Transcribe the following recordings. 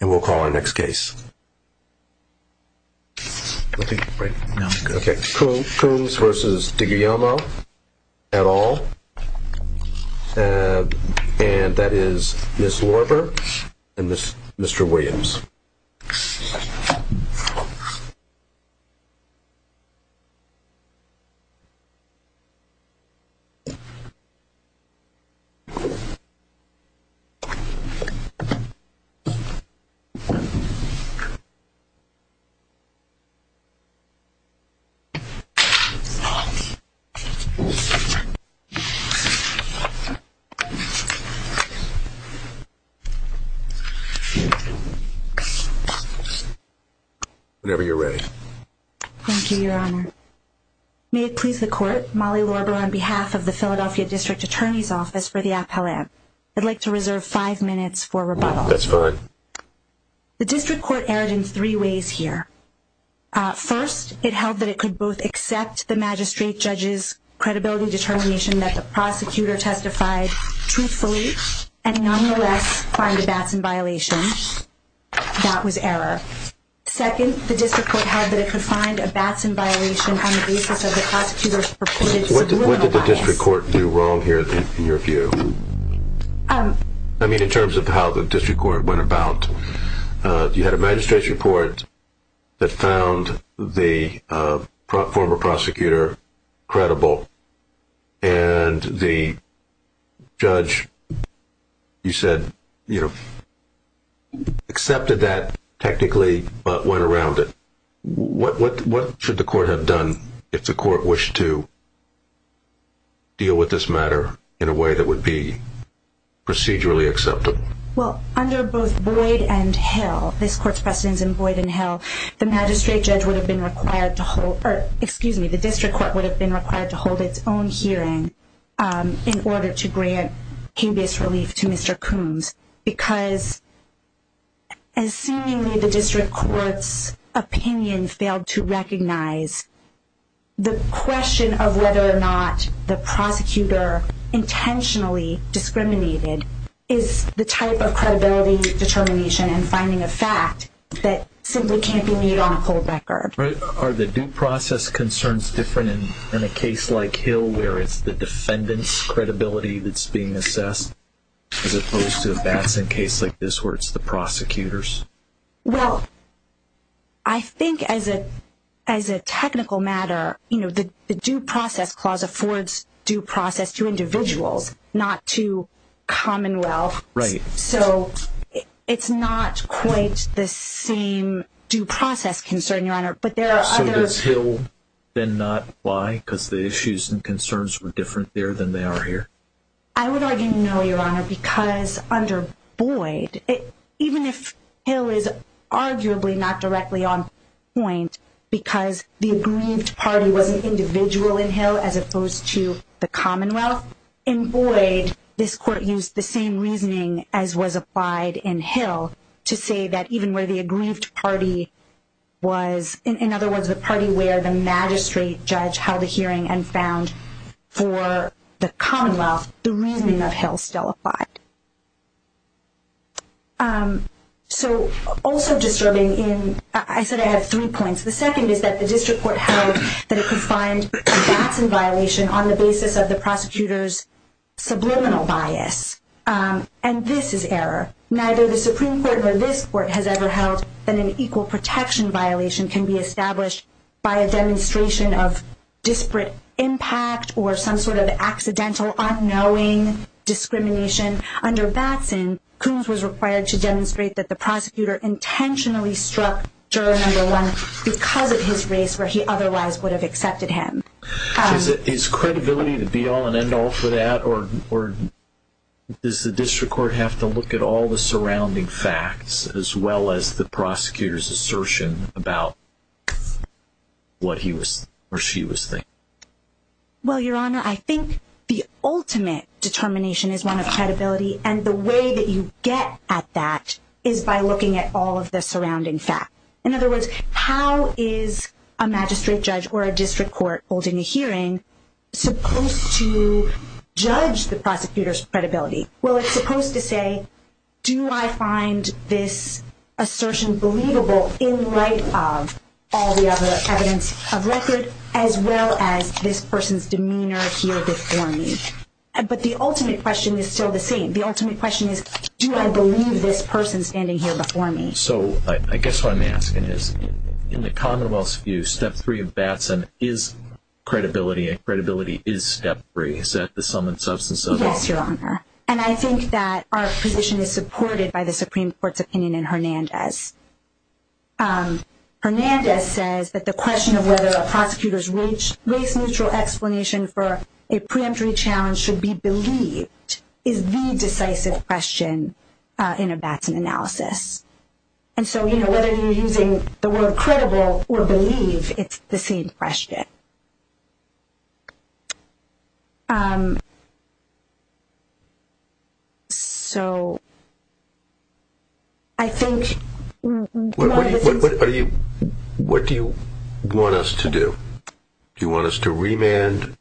and we'll call our next case. Coombs v. DiGuglielmo, et al., and that is Ms. Lorber and Mr. Williams. Whenever you're ready. Thank you, Your Honor. May it please the Court, Molly Lorber, on behalf of the Philadelphia District Attorney's Office for the Appellate, I'd like to reserve five minutes for rebuttal. That's fine. The District Court erred in three ways here. First, it held that it could both accept the magistrate judge's credibility determination that the prosecutor testified truthfully and nonetheless find a Batson violation. That was error. Second, the District Court held that it could find a Batson violation on the basis of the prosecutor's purported... What did the District Court do wrong here, in your view? I mean, in terms of how the District Court went about. You had a magistrate's report that found the former prosecutor credible and the judge, you said, you know, accepted that technically but went around it. What should the Court have done if the Court wished to deal with this matter in a way that would be procedurally acceptable? Well, under both Boyd and Hill, this Court's precedence in Boyd and Hill, the magistrate judge would have been required to hold, or excuse me, the District Court would have been required to hold its own hearing in order to grant case-based relief to Mr. Coombs. Because, as seemingly the District Court's opinion failed to recognize, the question of whether or not the prosecutor intentionally discriminated is the type of credibility determination and finding a fact that simply can't be made on a full record. Are the due process concerns different in a case like Hill where it's the defendant's credibility that's being assessed as opposed to a Batson case like this where it's the prosecutor's? Well, I think as a technical matter, you know, the due process clause affords due process to individuals, not to Commonwealth. Right. So, it's not quite the same due process concern, Your Honor, but there are others. So does Hill then not apply because the issues and concerns were different there than they are here? I would argue no, Your Honor, because under Boyd, even if Hill is arguably not directly on point because the aggrieved party was an individual in Hill as opposed to the Commonwealth, in Boyd, this Court used the same reasoning as was applied in Hill to say that even where the aggrieved party was, in other words, the party where the magistrate judge held a hearing and found for the Commonwealth, the reasoning of Hill still applied. So, also disturbing in, I said, I have 3 points. The 2nd is that the district court held that it could find a Batson violation on the basis of the prosecutor's. Subliminal bias, and this is error. Neither the Supreme Court or this court has ever held that an equal protection violation can be established. By a demonstration of disparate impact or some sort of accidental, unknowing discrimination. Under Batson, Kunz was required to demonstrate that the prosecutor intentionally struck Juror No. 1 because of his race where he otherwise would have accepted him. Is credibility the be-all and end-all for that or does the district court have to look at all the surrounding facts as well as the prosecutor's assertion about what he was or she was saying? Well, Your Honor, I think the ultimate determination is one of credibility and the way that you get at that is by looking at all of the surrounding facts. In other words, how is a magistrate judge or a district court holding a hearing supposed to judge the prosecutor's credibility? Well, it's supposed to say, do I find this assertion believable in light of all the other evidence of record as well as this person's demeanor here before me? But the ultimate question is still the same. The ultimate question is, do I believe this person standing here before me? So, I guess what I'm asking is, in the commonwealth's view, Step 3 of Batson is credibility and credibility is Step 3. Is that the sum and substance of it? Yes, Your Honor. And I think that our position is supported by the Supreme Court's opinion in Hernandez. Hernandez says that the question of whether a prosecutor's race-neutral explanation for a preemptory challenge should be believed is the decisive question in a Batson analysis. And so, you know, whether you're using the word credible or believe, it's the same question. What do you want us to do? Do you want us to remand? Do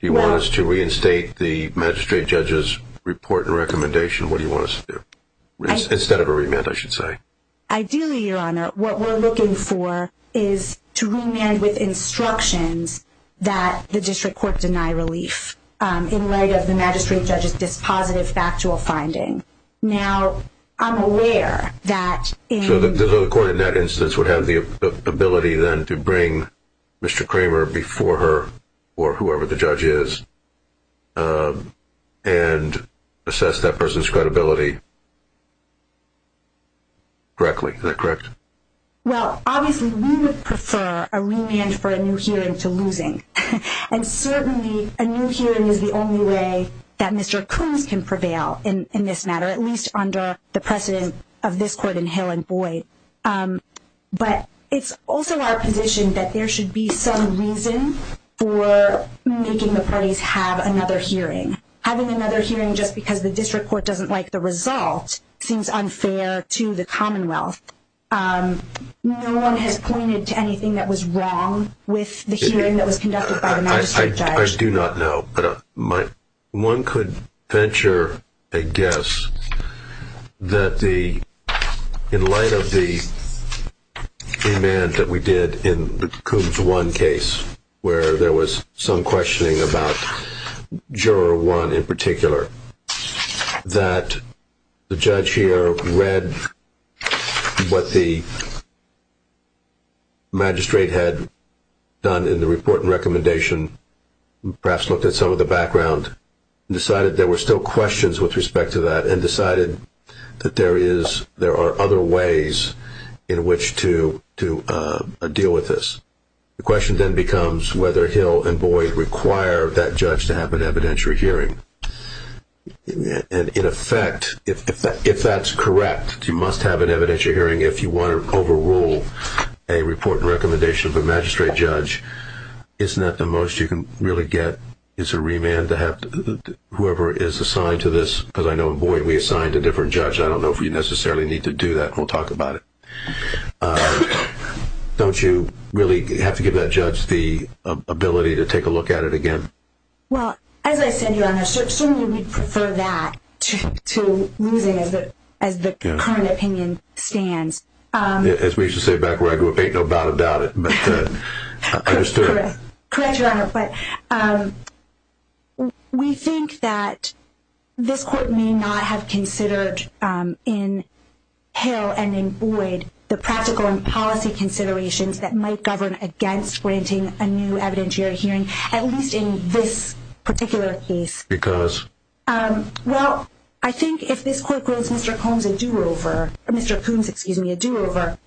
you want us to reinstate the magistrate judge's report and recommendation? What do you want us to do? Instead of a remand, I should say. Ideally, Your Honor, what we're looking for is to remand with instructions that the district court deny relief in light of the magistrate judge's dispositive factual finding. So the court in that instance would have the ability then to bring Mr. Kramer before her, or whoever the judge is, and assess that person's credibility directly. Is that correct? Well, obviously we would prefer a remand for a new hearing to losing. And certainly a new hearing is the only way that Mr. Coons can prevail in this matter, at least under the precedent of this court in Hill and Boyd. But it's also our position that there should be some reason for making the parties have another hearing. Having another hearing just because the district court doesn't like the result seems unfair to the Commonwealth. No one has pointed to anything that was wrong with the hearing that was conducted by the magistrate judge. I do not know. But one could venture a guess that in light of the remand that we did in the Coons 1 case, where there was some questioning about Juror 1 in particular, that the judge here read what the magistrate had done in the report and recommendation, perhaps looked at some of the background, and decided there were still questions with respect to that, and decided that there are other ways in which to deal with this. The question then becomes whether Hill and Boyd require that judge to have an evidentiary hearing. And in effect, if that's correct, you must have an evidentiary hearing if you want to overrule a report and recommendation of a magistrate judge. Isn't that the most you can really get is a remand to whoever is assigned to this? Because I know in Boyd we assigned a different judge. I don't know if we necessarily need to do that. We'll talk about it. Don't you really have to give that judge the ability to take a look at it again? Well, as I said, Your Honor, certainly we'd prefer that to losing as the current opinion stands. As we used to say back where I grew up, ain't no doubt about it. Correct, Your Honor, but we think that this court may not have considered in Hill and in Boyd the practical and policy considerations that might govern against granting a new evidentiary hearing, at least in this particular case. Because? Well, I think if this court gives Mr. Coombs a do-over, Mr. Coombs, excuse me, a do-over,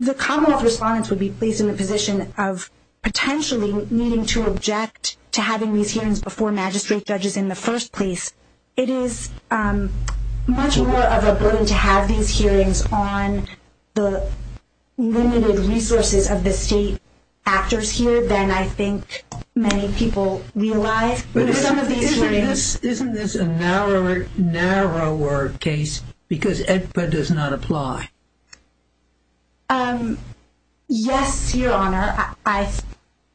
the Commonwealth respondents would be placed in the position of potentially needing to object to having these hearings before magistrate judges in the first place. It is much more of a burden to have these hearings on the limited resources of the state actors here than I think many people realize. Isn't this a narrower case because it does not apply? Yes, Your Honor.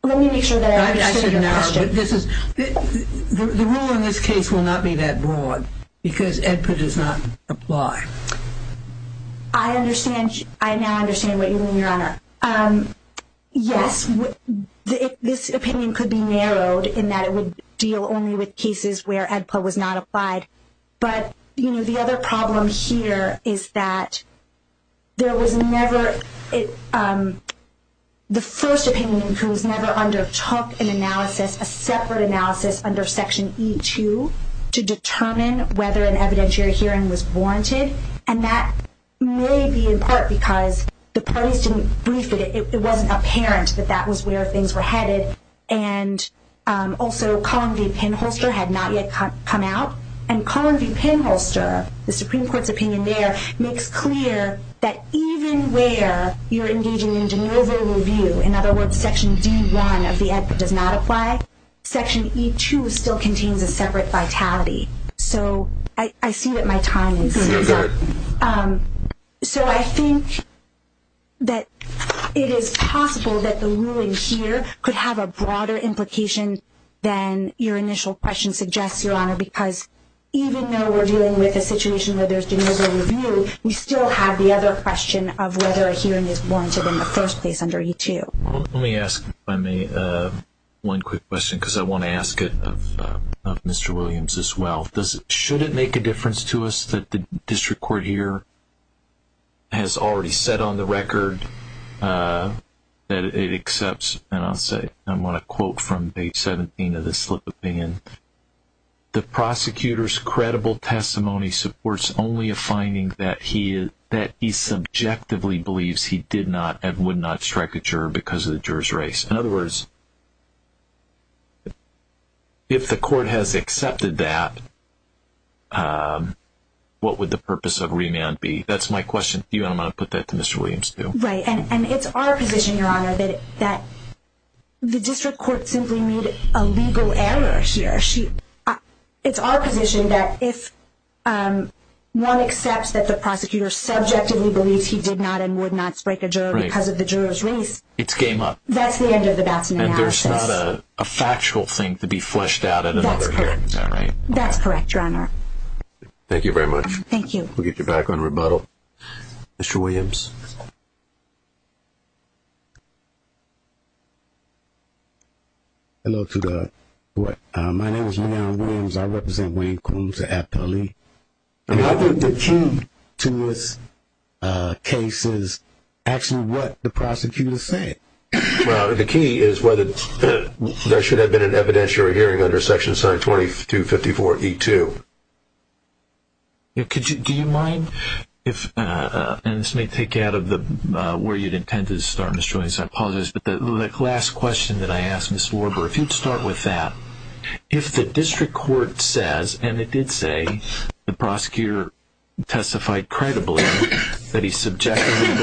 Let me make sure that I understood your question. The rule in this case will not be that broad because AEDPA does not apply. I now understand what you mean, Your Honor. Yes, this opinion could be narrowed in that it would deal only with cases where AEDPA was not applied. But the other problem here is that the first opinion in Coombs never undertook an analysis, a separate analysis under Section E2, to determine whether an evidentiary hearing was warranted. And that may be in part because the parties didn't brief it. It wasn't apparent that that was where things were headed. And also, Collin v. Penholster had not yet come out. And Collin v. Penholster, the Supreme Court's opinion there, makes clear that even where you're engaging in an over-review, in other words, Section D1 of the AEDPA does not apply, Section E2 still contains a separate vitality. So I see that my time is up. So I think that it is possible that the ruling here could have a broader implication than your initial question suggests, Your Honor, because even though we're dealing with a situation where there's been over-review, we still have the other question of whether a hearing is warranted in the first place under E2. Let me ask, if I may, one quick question because I want to ask it of Mr. Williams as well. Should it make a difference to us that the district court here has already said on the record that it accepts, and I'll say, I want to quote from page 17 of this slip of paper, the prosecutor's credible testimony supports only a finding that he subjectively believes he did not and would not strike a juror because of the juror's race. In other words, if the court has accepted that, what would the purpose of remand be? That's my question to you and I'm going to put that to Mr. Williams too. Right, and it's our position, Your Honor, that the district court simply made a legal error here. It's our position that if one accepts that the prosecutor subjectively believes he did not and would not strike a juror because of the juror's race. It's game up. That's the end of the Batson analysis. And there's not a factual thing to be fleshed out at another hearing, is that right? That's correct, Your Honor. Thank you very much. Thank you. We'll get you back on rebuttal. Mr. Williams. Hello to the court. My name is Leon Williams. I represent Wayne Coombs at Aptly. I think the key to this case is actually what the prosecutor said. Well, the key is whether there should have been an evidentiary hearing under Section 2254E2. Do you mind if, and this may take you out of where you intended to start, Mr. Williams, I apologize, but the last question that I asked, Ms. Warbur, if you'd start with that. If the district court says, and it did say the prosecutor testified credibly that he subjectively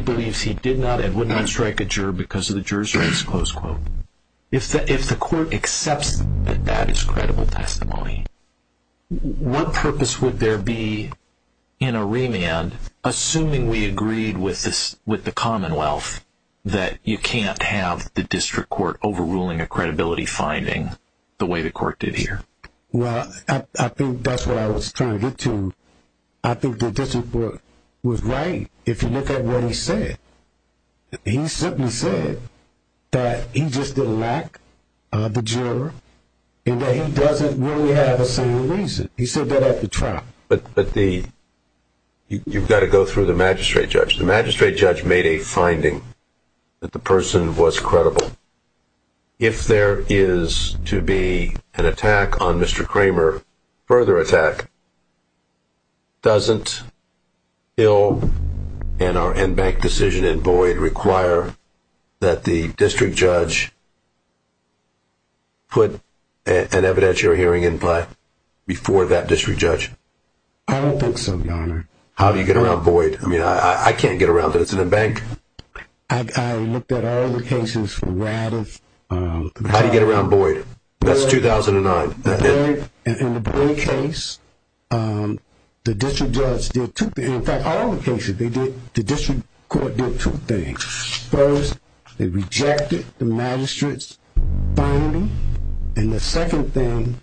believes he did not and would not strike a juror because of the juror's race, if the court accepts that that is credible testimony, what purpose would there be in a remand, assuming we agreed with the Commonwealth, that you can't have the district court overruling a credibility finding the way the court did here? Well, I think that's what I was trying to get to. I think the district court was right. If you look at what he said, he simply said that he just didn't like the juror and that he doesn't really have a single reason. He said that at the trial. But you've got to go through the magistrate judge. The magistrate judge made a finding that the person was credible. If there is to be an attack on Mr. Kramer, further attack, doesn't Hill and our in-bank decision in Boyd require that the district judge put an evidentiary hearing in place before that district judge? I don't think so, Your Honor. How do you get around Boyd? I mean, I can't get around it. It's in the bank. I looked at all the cases from Raddiff. How do you get around Boyd? That's 2009. In the Boyd case, the district judge did two things. In fact, all the cases they did, the district court did two things. First, they rejected the magistrate's finding. And the second thing,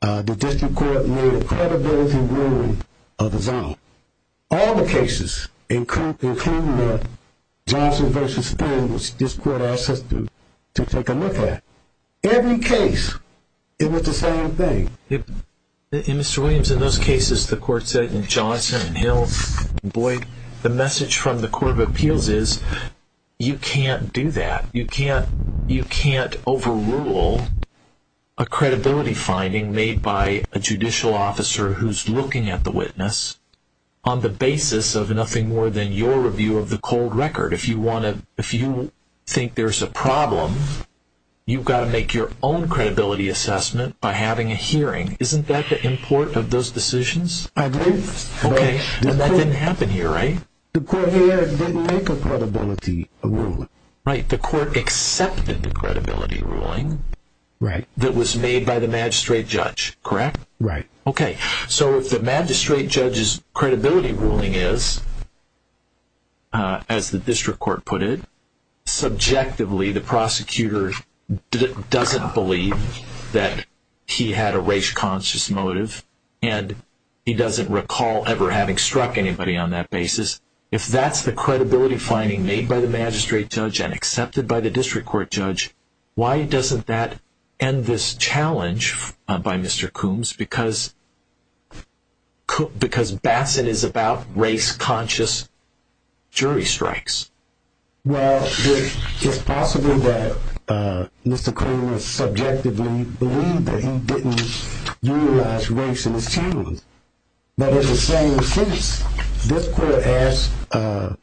the district court made a credibility ruling of his own. All the cases, including Johnson v. Spoon, which this court asked us to take a look at, every case, it was the same thing. Mr. Williams, in those cases, the court said in Johnson and Hill and Boyd, the message from the court of appeals is you can't do that. You can't overrule a credibility finding made by a judicial officer who's looking at the witness on the basis of nothing more than your review of the cold record. If you think there's a problem, you've got to make your own credibility assessment by having a hearing. Isn't that the import of those decisions? I believe so. Okay. And that didn't happen here, right? The court here didn't make a credibility ruling. Right. The court accepted the credibility ruling that was made by the magistrate judge, correct? Right. Okay. So if the magistrate judge's credibility ruling is, as the district court put it, subjectively the prosecutor doesn't believe that he had a race-conscious motive, and he doesn't recall ever having struck anybody on that basis, if that's the credibility finding made by the magistrate judge and accepted by the district court judge, why doesn't that end this challenge by Mr. Coombs? Because Bassett is about race-conscious jury strikes. Well, it's possible that Mr. Coombs subjectively believed that he didn't utilize race in his case. But it's the same case. This court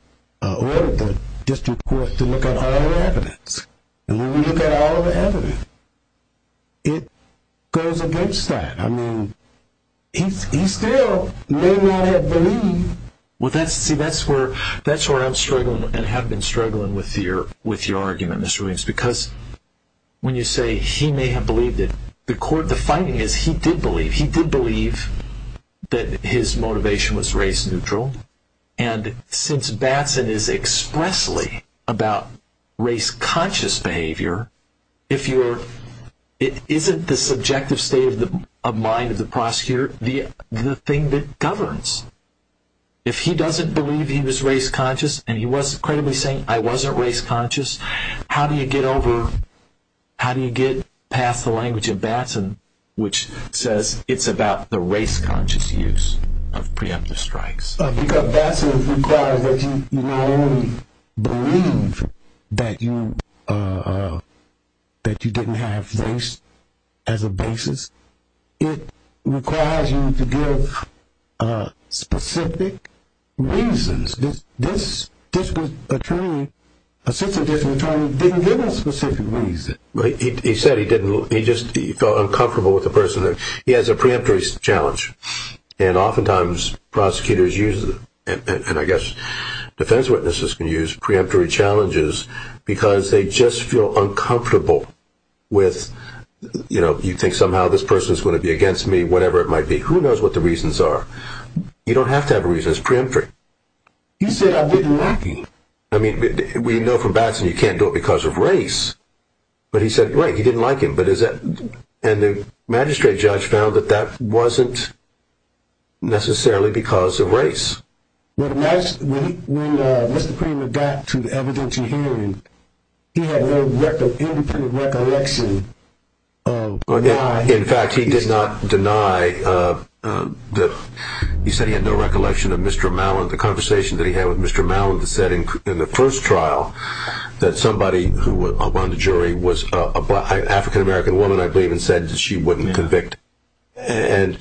ordered the district court to look at all the evidence. And when we look at all the evidence, it goes against that. I mean, he still may not have believed. Well, see, that's where I'm struggling and have been struggling with your argument, Mr. Williams, because when you say he may have believed it, the court, the finding is he did believe. He did believe that his motivation was race-neutral. And since Bassett is expressly about race-conscious behavior, it isn't the subjective state of mind of the prosecutor the thing that governs. If he doesn't believe he was race-conscious and he wasn't credibly saying, I wasn't race-conscious, how do you get over, how do you get past the language of Bassett, which says it's about the race-conscious use of preemptive strikes? Because Bassett requires that you not only believe that you didn't have race as a basis, it requires you to give specific reasons. This assistant attorney didn't give us specific reasons. He said he felt uncomfortable with the person. He has a preemptory challenge, and oftentimes prosecutors use it, and I guess defense witnesses can use preemptory challenges because they just feel uncomfortable with, you know, you think somehow this person is going to be against me, whatever it might be. Who knows what the reasons are? You don't have to have a reason. It's preemptory. He said I didn't like him. I mean, we know from Bassett you can't do it because of race. But he said, right, he didn't like him. And the magistrate judge found that that wasn't necessarily because of race. When Mr. Kramer got to the evidentiary hearing, he had no independent recollection of why he did not. He did not deny that he said he had no recollection of Mr. Malin. The conversation that he had with Mr. Malin said in the first trial that somebody who was on the jury was an African-American woman, I believe, and said she wouldn't convict. And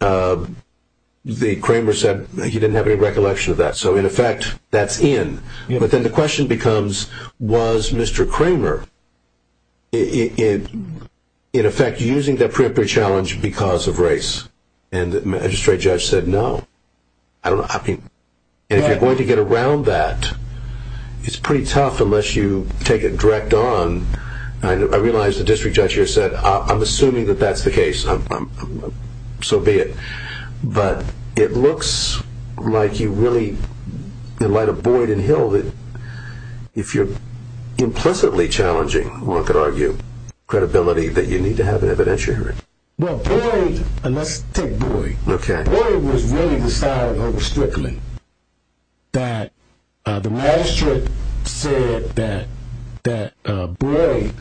Kramer said he didn't have any recollection of that. So, in effect, that's in. But then the question becomes, was Mr. Kramer, in effect, using that preemptory challenge because of race? And the magistrate judge said no. And if you're going to get around that, it's pretty tough unless you take it direct on. I realize the district judge here said I'm assuming that that's the case. So be it. But it looks like you really, in light of Boyd and Hill, if you're implicitly challenging, one could argue, credibility, that you need to have an evidentiary hearing. Well, Boyd, and let's take Boyd. Okay. Boyd was really the side over Strickland that the magistrate said that Boyd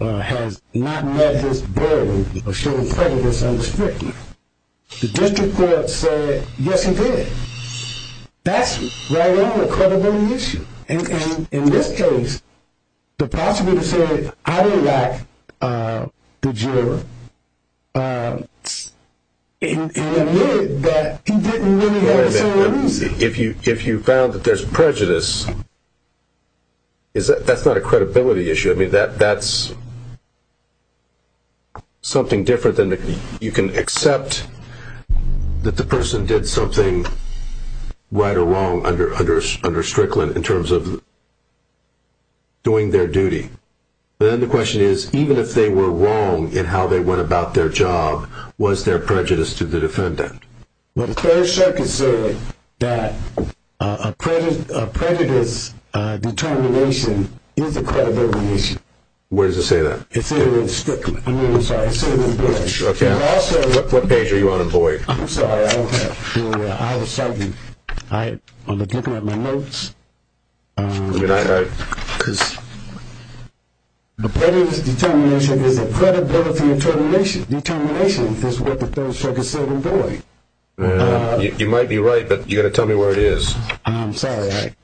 has not met his burden of showing prejudice under Strickland. The district court said, yes, he did. That's right on the credibility issue. And in this case, the prosecutor said, I don't like the juror, and admitted that he didn't really have a solid reason. If you found that there's prejudice, that's not a credibility issue. I mean, that's something different than you can accept that the person did something right or wrong under Strickland in terms of doing their duty. But then the question is, even if they were wrong in how they went about their job, was there prejudice to the defendant? Well, the Third Circuit said that a prejudice determination is a credibility issue. Where does it say that? It said it in Strickland. I'm really sorry. It said it in Boyd. Okay. What page are you on in Boyd? I'm sorry. I don't have it. I was looking at my notes. Because prejudice determination is a credibility determination. Determination is what the Third Circuit said in Boyd. You might be right, but you've got to tell me where it is. I'm sorry.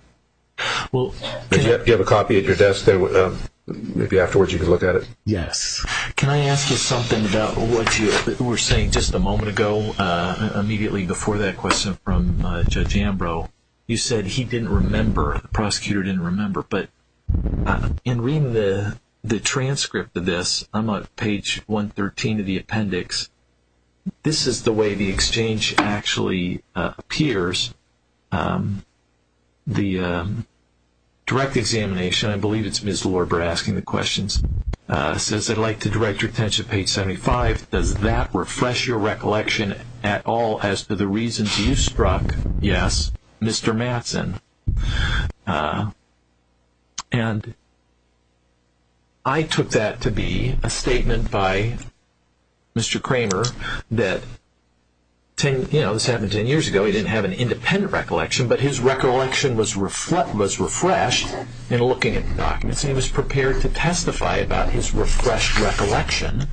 Do you have a copy at your desk? Maybe afterwards you can look at it. Yes. Can I ask you something about what you were saying just a moment ago, immediately before that question from Judge Ambrose? You said he didn't remember, the prosecutor didn't remember. But in reading the transcript of this, I'm on page 113 of the appendix, this is the way the exchange actually appears. The direct examination, I believe it's Ms. Lorber asking the questions, says, I'd like to direct your attention to page 75. Does that refresh your recollection at all as to the reasons you struck? Yes. Mr. Mattson. And I took that to be a statement by Mr. Kramer that, you know, this happened ten years ago. He didn't have an independent recollection, but his recollection was refreshed in looking at the documents, and he was prepared to testify about his refreshed recollection.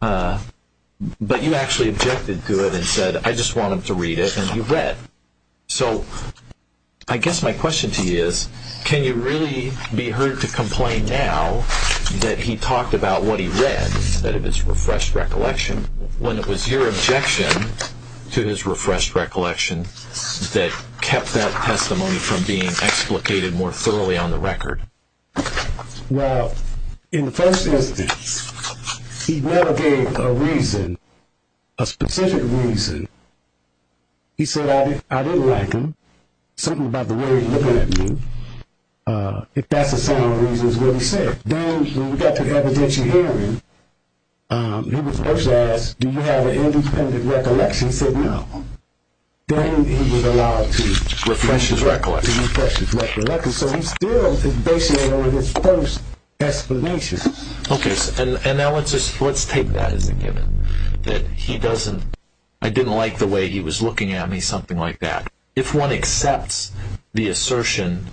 But you actually objected to it and said, I just want him to read it, and he read. So I guess my question to you is, can you really be heard to complain now that he talked about what he read, instead of his refreshed recollection, when it was your objection to his refreshed recollection that kept that testimony from being explicated more thoroughly on the record? Well, in the first instance, he never gave a reason, a specific reason. He said, I didn't like him, something about the way he was looking at me. If that's a sound reason, it's what he said. Then when we got to the evidentiary hearing, he was first asked, do you have an independent recollection? He said no. Then he was allowed to refresh his recollection. So he's still basing it on his first explanation. Okay. And now let's take that as a given, that he doesn't, I didn't like the way he was looking at me, something like that. If one accepts the assertion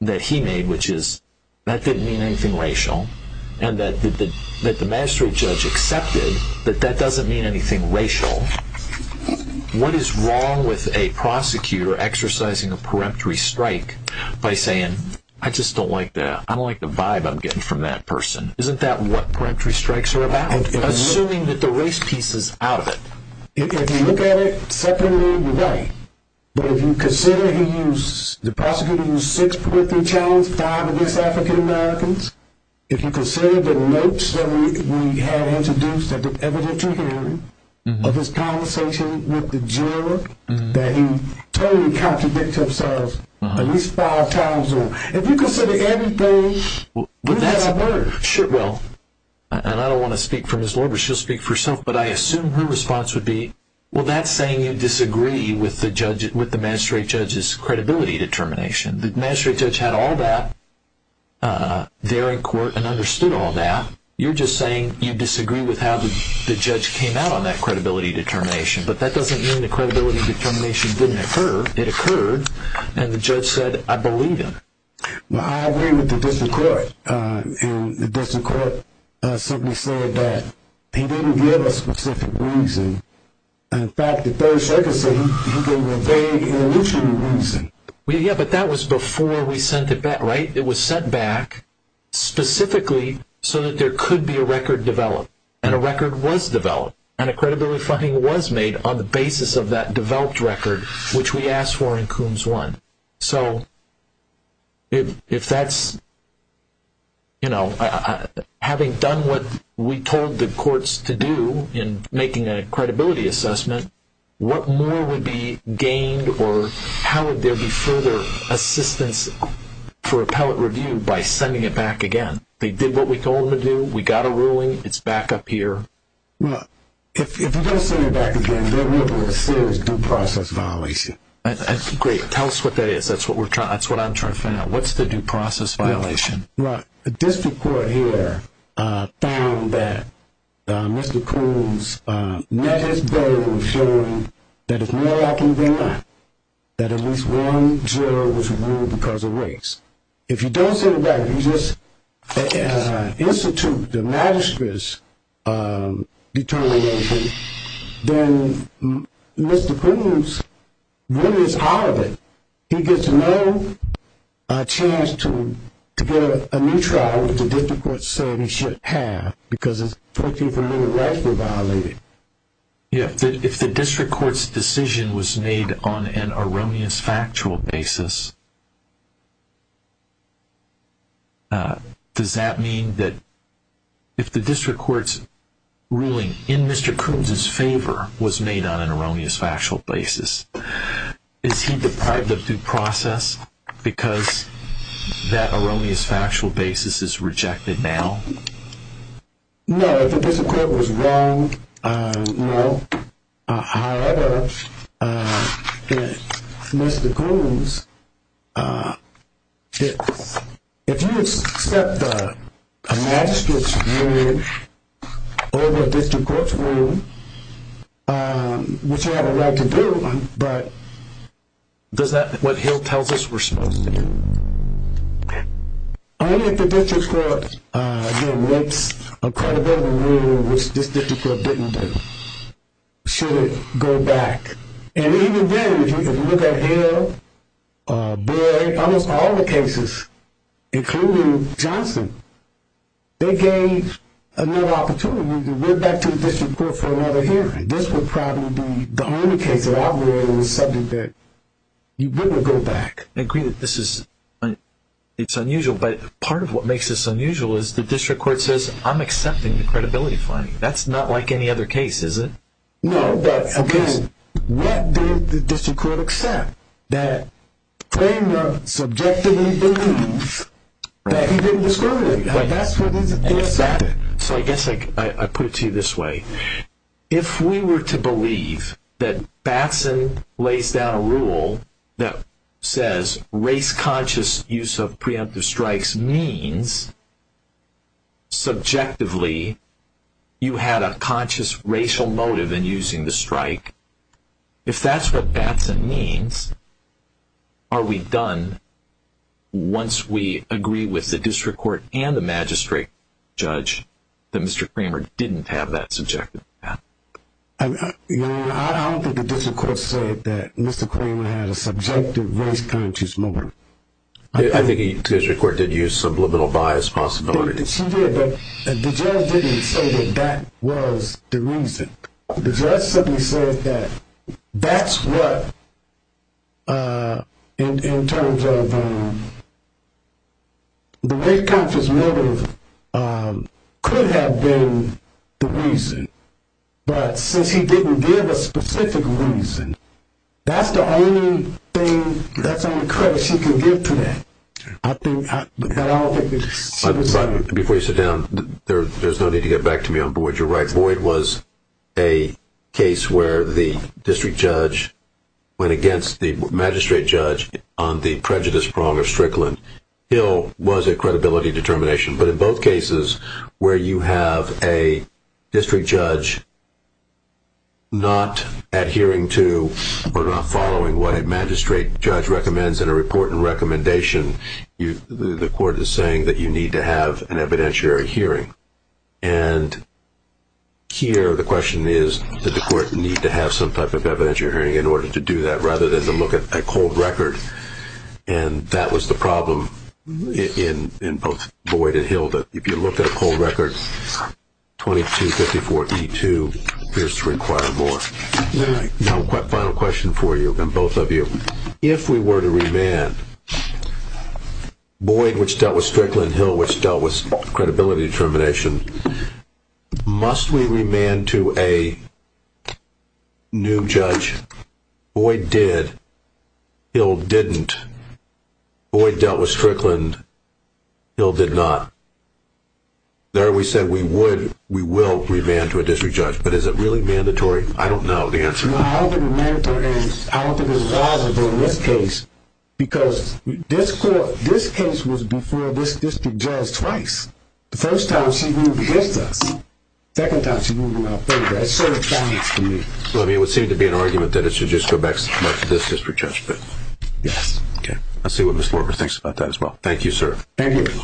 that he made, which is that didn't mean anything racial, and that the magistrate judge accepted that that doesn't mean anything racial, what is wrong with a prosecutor exercising a peremptory strike by saying, I just don't like that, I don't like the vibe I'm getting from that person. Isn't that what peremptory strikes are about? Assuming that the race piece is out of it. If you look at it separately, you're right. But if you consider he used, the prosecutor used 6.3 challenge 5 against African Americans. If you consider the notes that we had introduced at the evidentiary hearing of his conversation with the juror, that he totally contradicts himself at least five times over. If you consider anything, you've had a murder. Well, and I don't want to speak for Ms. Lorber, she'll speak for herself, but I assume her response would be, well, that's saying you disagree with the magistrate judge's credibility determination. The magistrate judge had all that there in court and understood all that. You're just saying you disagree with how the judge came out on that credibility determination. But that doesn't mean the credibility determination didn't occur. It occurred, and the judge said, I believe him. Well, I agree with the district court. And the district court simply said that he didn't give a specific reason. In fact, the third circuit said he gave a vague, illusory reason. Yeah, but that was before we sent it back, right? It was sent back specifically so that there could be a record developed. And a record was developed, and a credibility finding was made on the basis of that developed record, which we asked for in Coons 1. So if that's, you know, having done what we told the courts to do in making a credibility assessment, what more would be gained, or how would there be further assistance for appellate review by sending it back again? They did what we told them to do. We got a ruling. It's back up here. Well, if we don't send it back again, there will be a serious due process violation. Great. Tell us what that is. That's what I'm trying to find out. What's the due process violation? Well, the district court here found that Mr. Coons met his goal of showing that if more can be done, that at least one jail was ruled because of race. If you don't send it back, you just institute the magistrate's determination, then Mr. Coons really is out of it. He gets no chance to get a new trial, which the district court said he shouldn't have, because his 14th Amendment rights were violated. Yeah. If the district court's decision was made on an erroneous factual basis, does that mean that if the district court's ruling in Mr. Coons' favor was made on an erroneous factual basis, is he deprived of due process because that erroneous factual basis is rejected now? No. If the district court was wrong, no. But is that what Hill tells us we're supposed to do? Only if the district court relates a credible ruling, which this district court didn't do, should it go back. And even then, if you can look at Hill, Boyd, almost all the cases, including Johnson, they gave another opportunity to go back to the district court for another hearing. This would probably be the only case that I would worry was something that you wouldn't go back. I agree that this is unusual, but part of what makes this unusual is the district court says, I'm accepting the credibility finding. That's not like any other case, is it? No, but what did the district court accept? That Kramer subjectively believes that he didn't discriminate. That's what they accepted. So I guess I put it to you this way. If we were to believe that Batson lays down a rule that says race conscious use of preemptive strikes means subjectively you had a conscious racial motive in using the strike, if that's what Batson means, are we done once we agree with the district court and the magistrate judge that Mr. Kramer didn't have that subjective path? I don't think the district court said that Mr. Kramer had a subjective race conscious motive. I think the district court did use some liminal bias possibility. She did, but the judge didn't say that that was the reason. The judge simply said that that's what, in terms of the race conscious motive, could have been the reason, but since he didn't give a specific reason, that's the only thing, that's the only credit she can give to that. I think that all that she was saying. Before you sit down, there's no need to get back to me on Boyd. I think you're right. Boyd was a case where the district judge went against the magistrate judge on the prejudice prong of Strickland. Hill was a credibility determination, but in both cases where you have a district judge not adhering to or not following what a magistrate judge recommends in a report and recommendation, the court is saying that you need to have an evidentiary hearing. Here, the question is, did the court need to have some type of evidentiary hearing in order to do that, rather than to look at a cold record, and that was the problem in both Boyd and Hill. If you look at a cold record, 2254E2 appears to require more. Final question for you, and both of you. If we were to remand Boyd, which dealt with Strickland, Hill, which dealt with credibility determination, must we remand to a new judge? Boyd did. Hill didn't. Boyd dealt with Strickland. Hill did not. There we said we will remand to a district judge, but is it really mandatory? I don't know the answer. I don't think it's mandatory, and I don't think it's plausible in this case, because this case was before this district judge twice. The first time she moved against us. The second time she moved in our favor. That's sort of silence to me. It would seem to be an argument that it should just go back to this district judge. Yes. Okay. Let's see what Ms. Mortimer thinks about that as well. Thank you, sir. Thank you.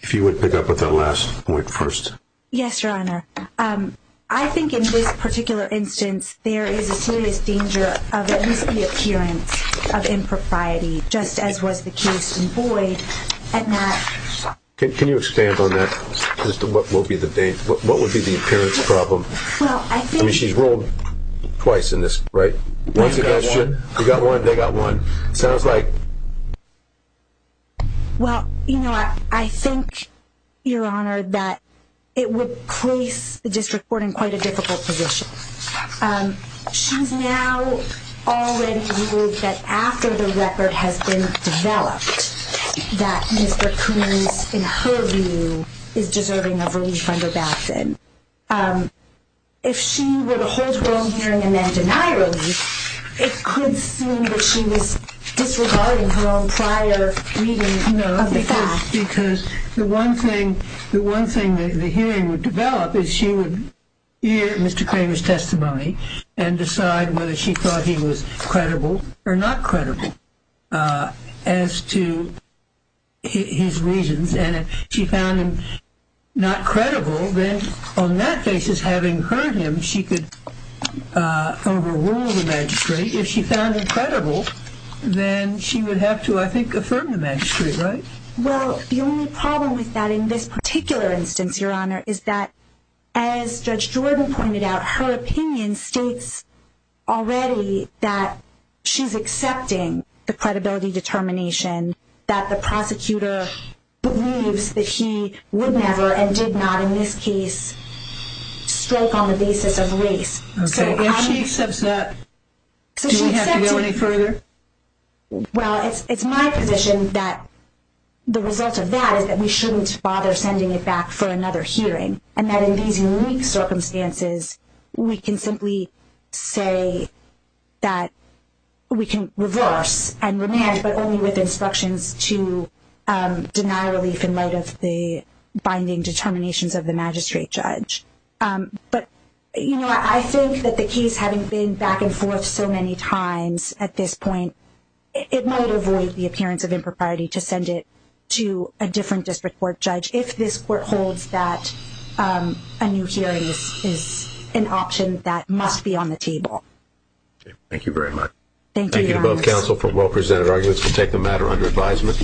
If you would pick up with that last point first. Yes, Your Honor. I think in this particular instance, there is a serious danger of at least the appearance of impropriety, just as was the case in Boyd. Can you expand on that as to what would be the appearance problem? I mean, she's ruled twice in this, right? They got one. They got one. Sounds like. Well, you know, I think, Your Honor, that it would place the district court in quite a difficult position. She's now already ruled that after the record has been developed, that Mr. Coons, in her view, is deserving of relief under Batson. If she were to hold her own hearing and then deny relief, it could seem that she was disregarding her own prior reading of the facts. No, because the one thing the hearing would develop is she would hear Mr. Kramer's testimony and decide whether she thought he was credible or not credible as to his reasons. And if she found him not credible, then on that basis, having heard him, she could overrule the magistrate. If she found him credible, then she would have to, I think, affirm the magistrate, right? Well, the only problem with that in this particular instance, Your Honor, is that as Judge Jordan pointed out, her opinion states already that she's accepting the credibility determination, that the prosecutor believes that he would never, and did not in this case, stroke on the basis of race. Okay, if she accepts that, do we have to go any further? Well, it's my position that the result of that is that we shouldn't bother sending it back for another hearing, and that in these unique circumstances, we can simply say that we can reverse and remand, but only with instructions to deny relief in light of the binding determinations of the magistrate judge. But, you know, I think that the case, having been back and forth so many times at this point, it might avoid the appearance of impropriety to send it to a different district court judge if this court holds that a new hearing is an option that must be on the table. Thank you very much. Thank you to both counsel for well-presented arguments. We'll take the matter under advisement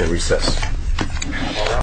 and recess.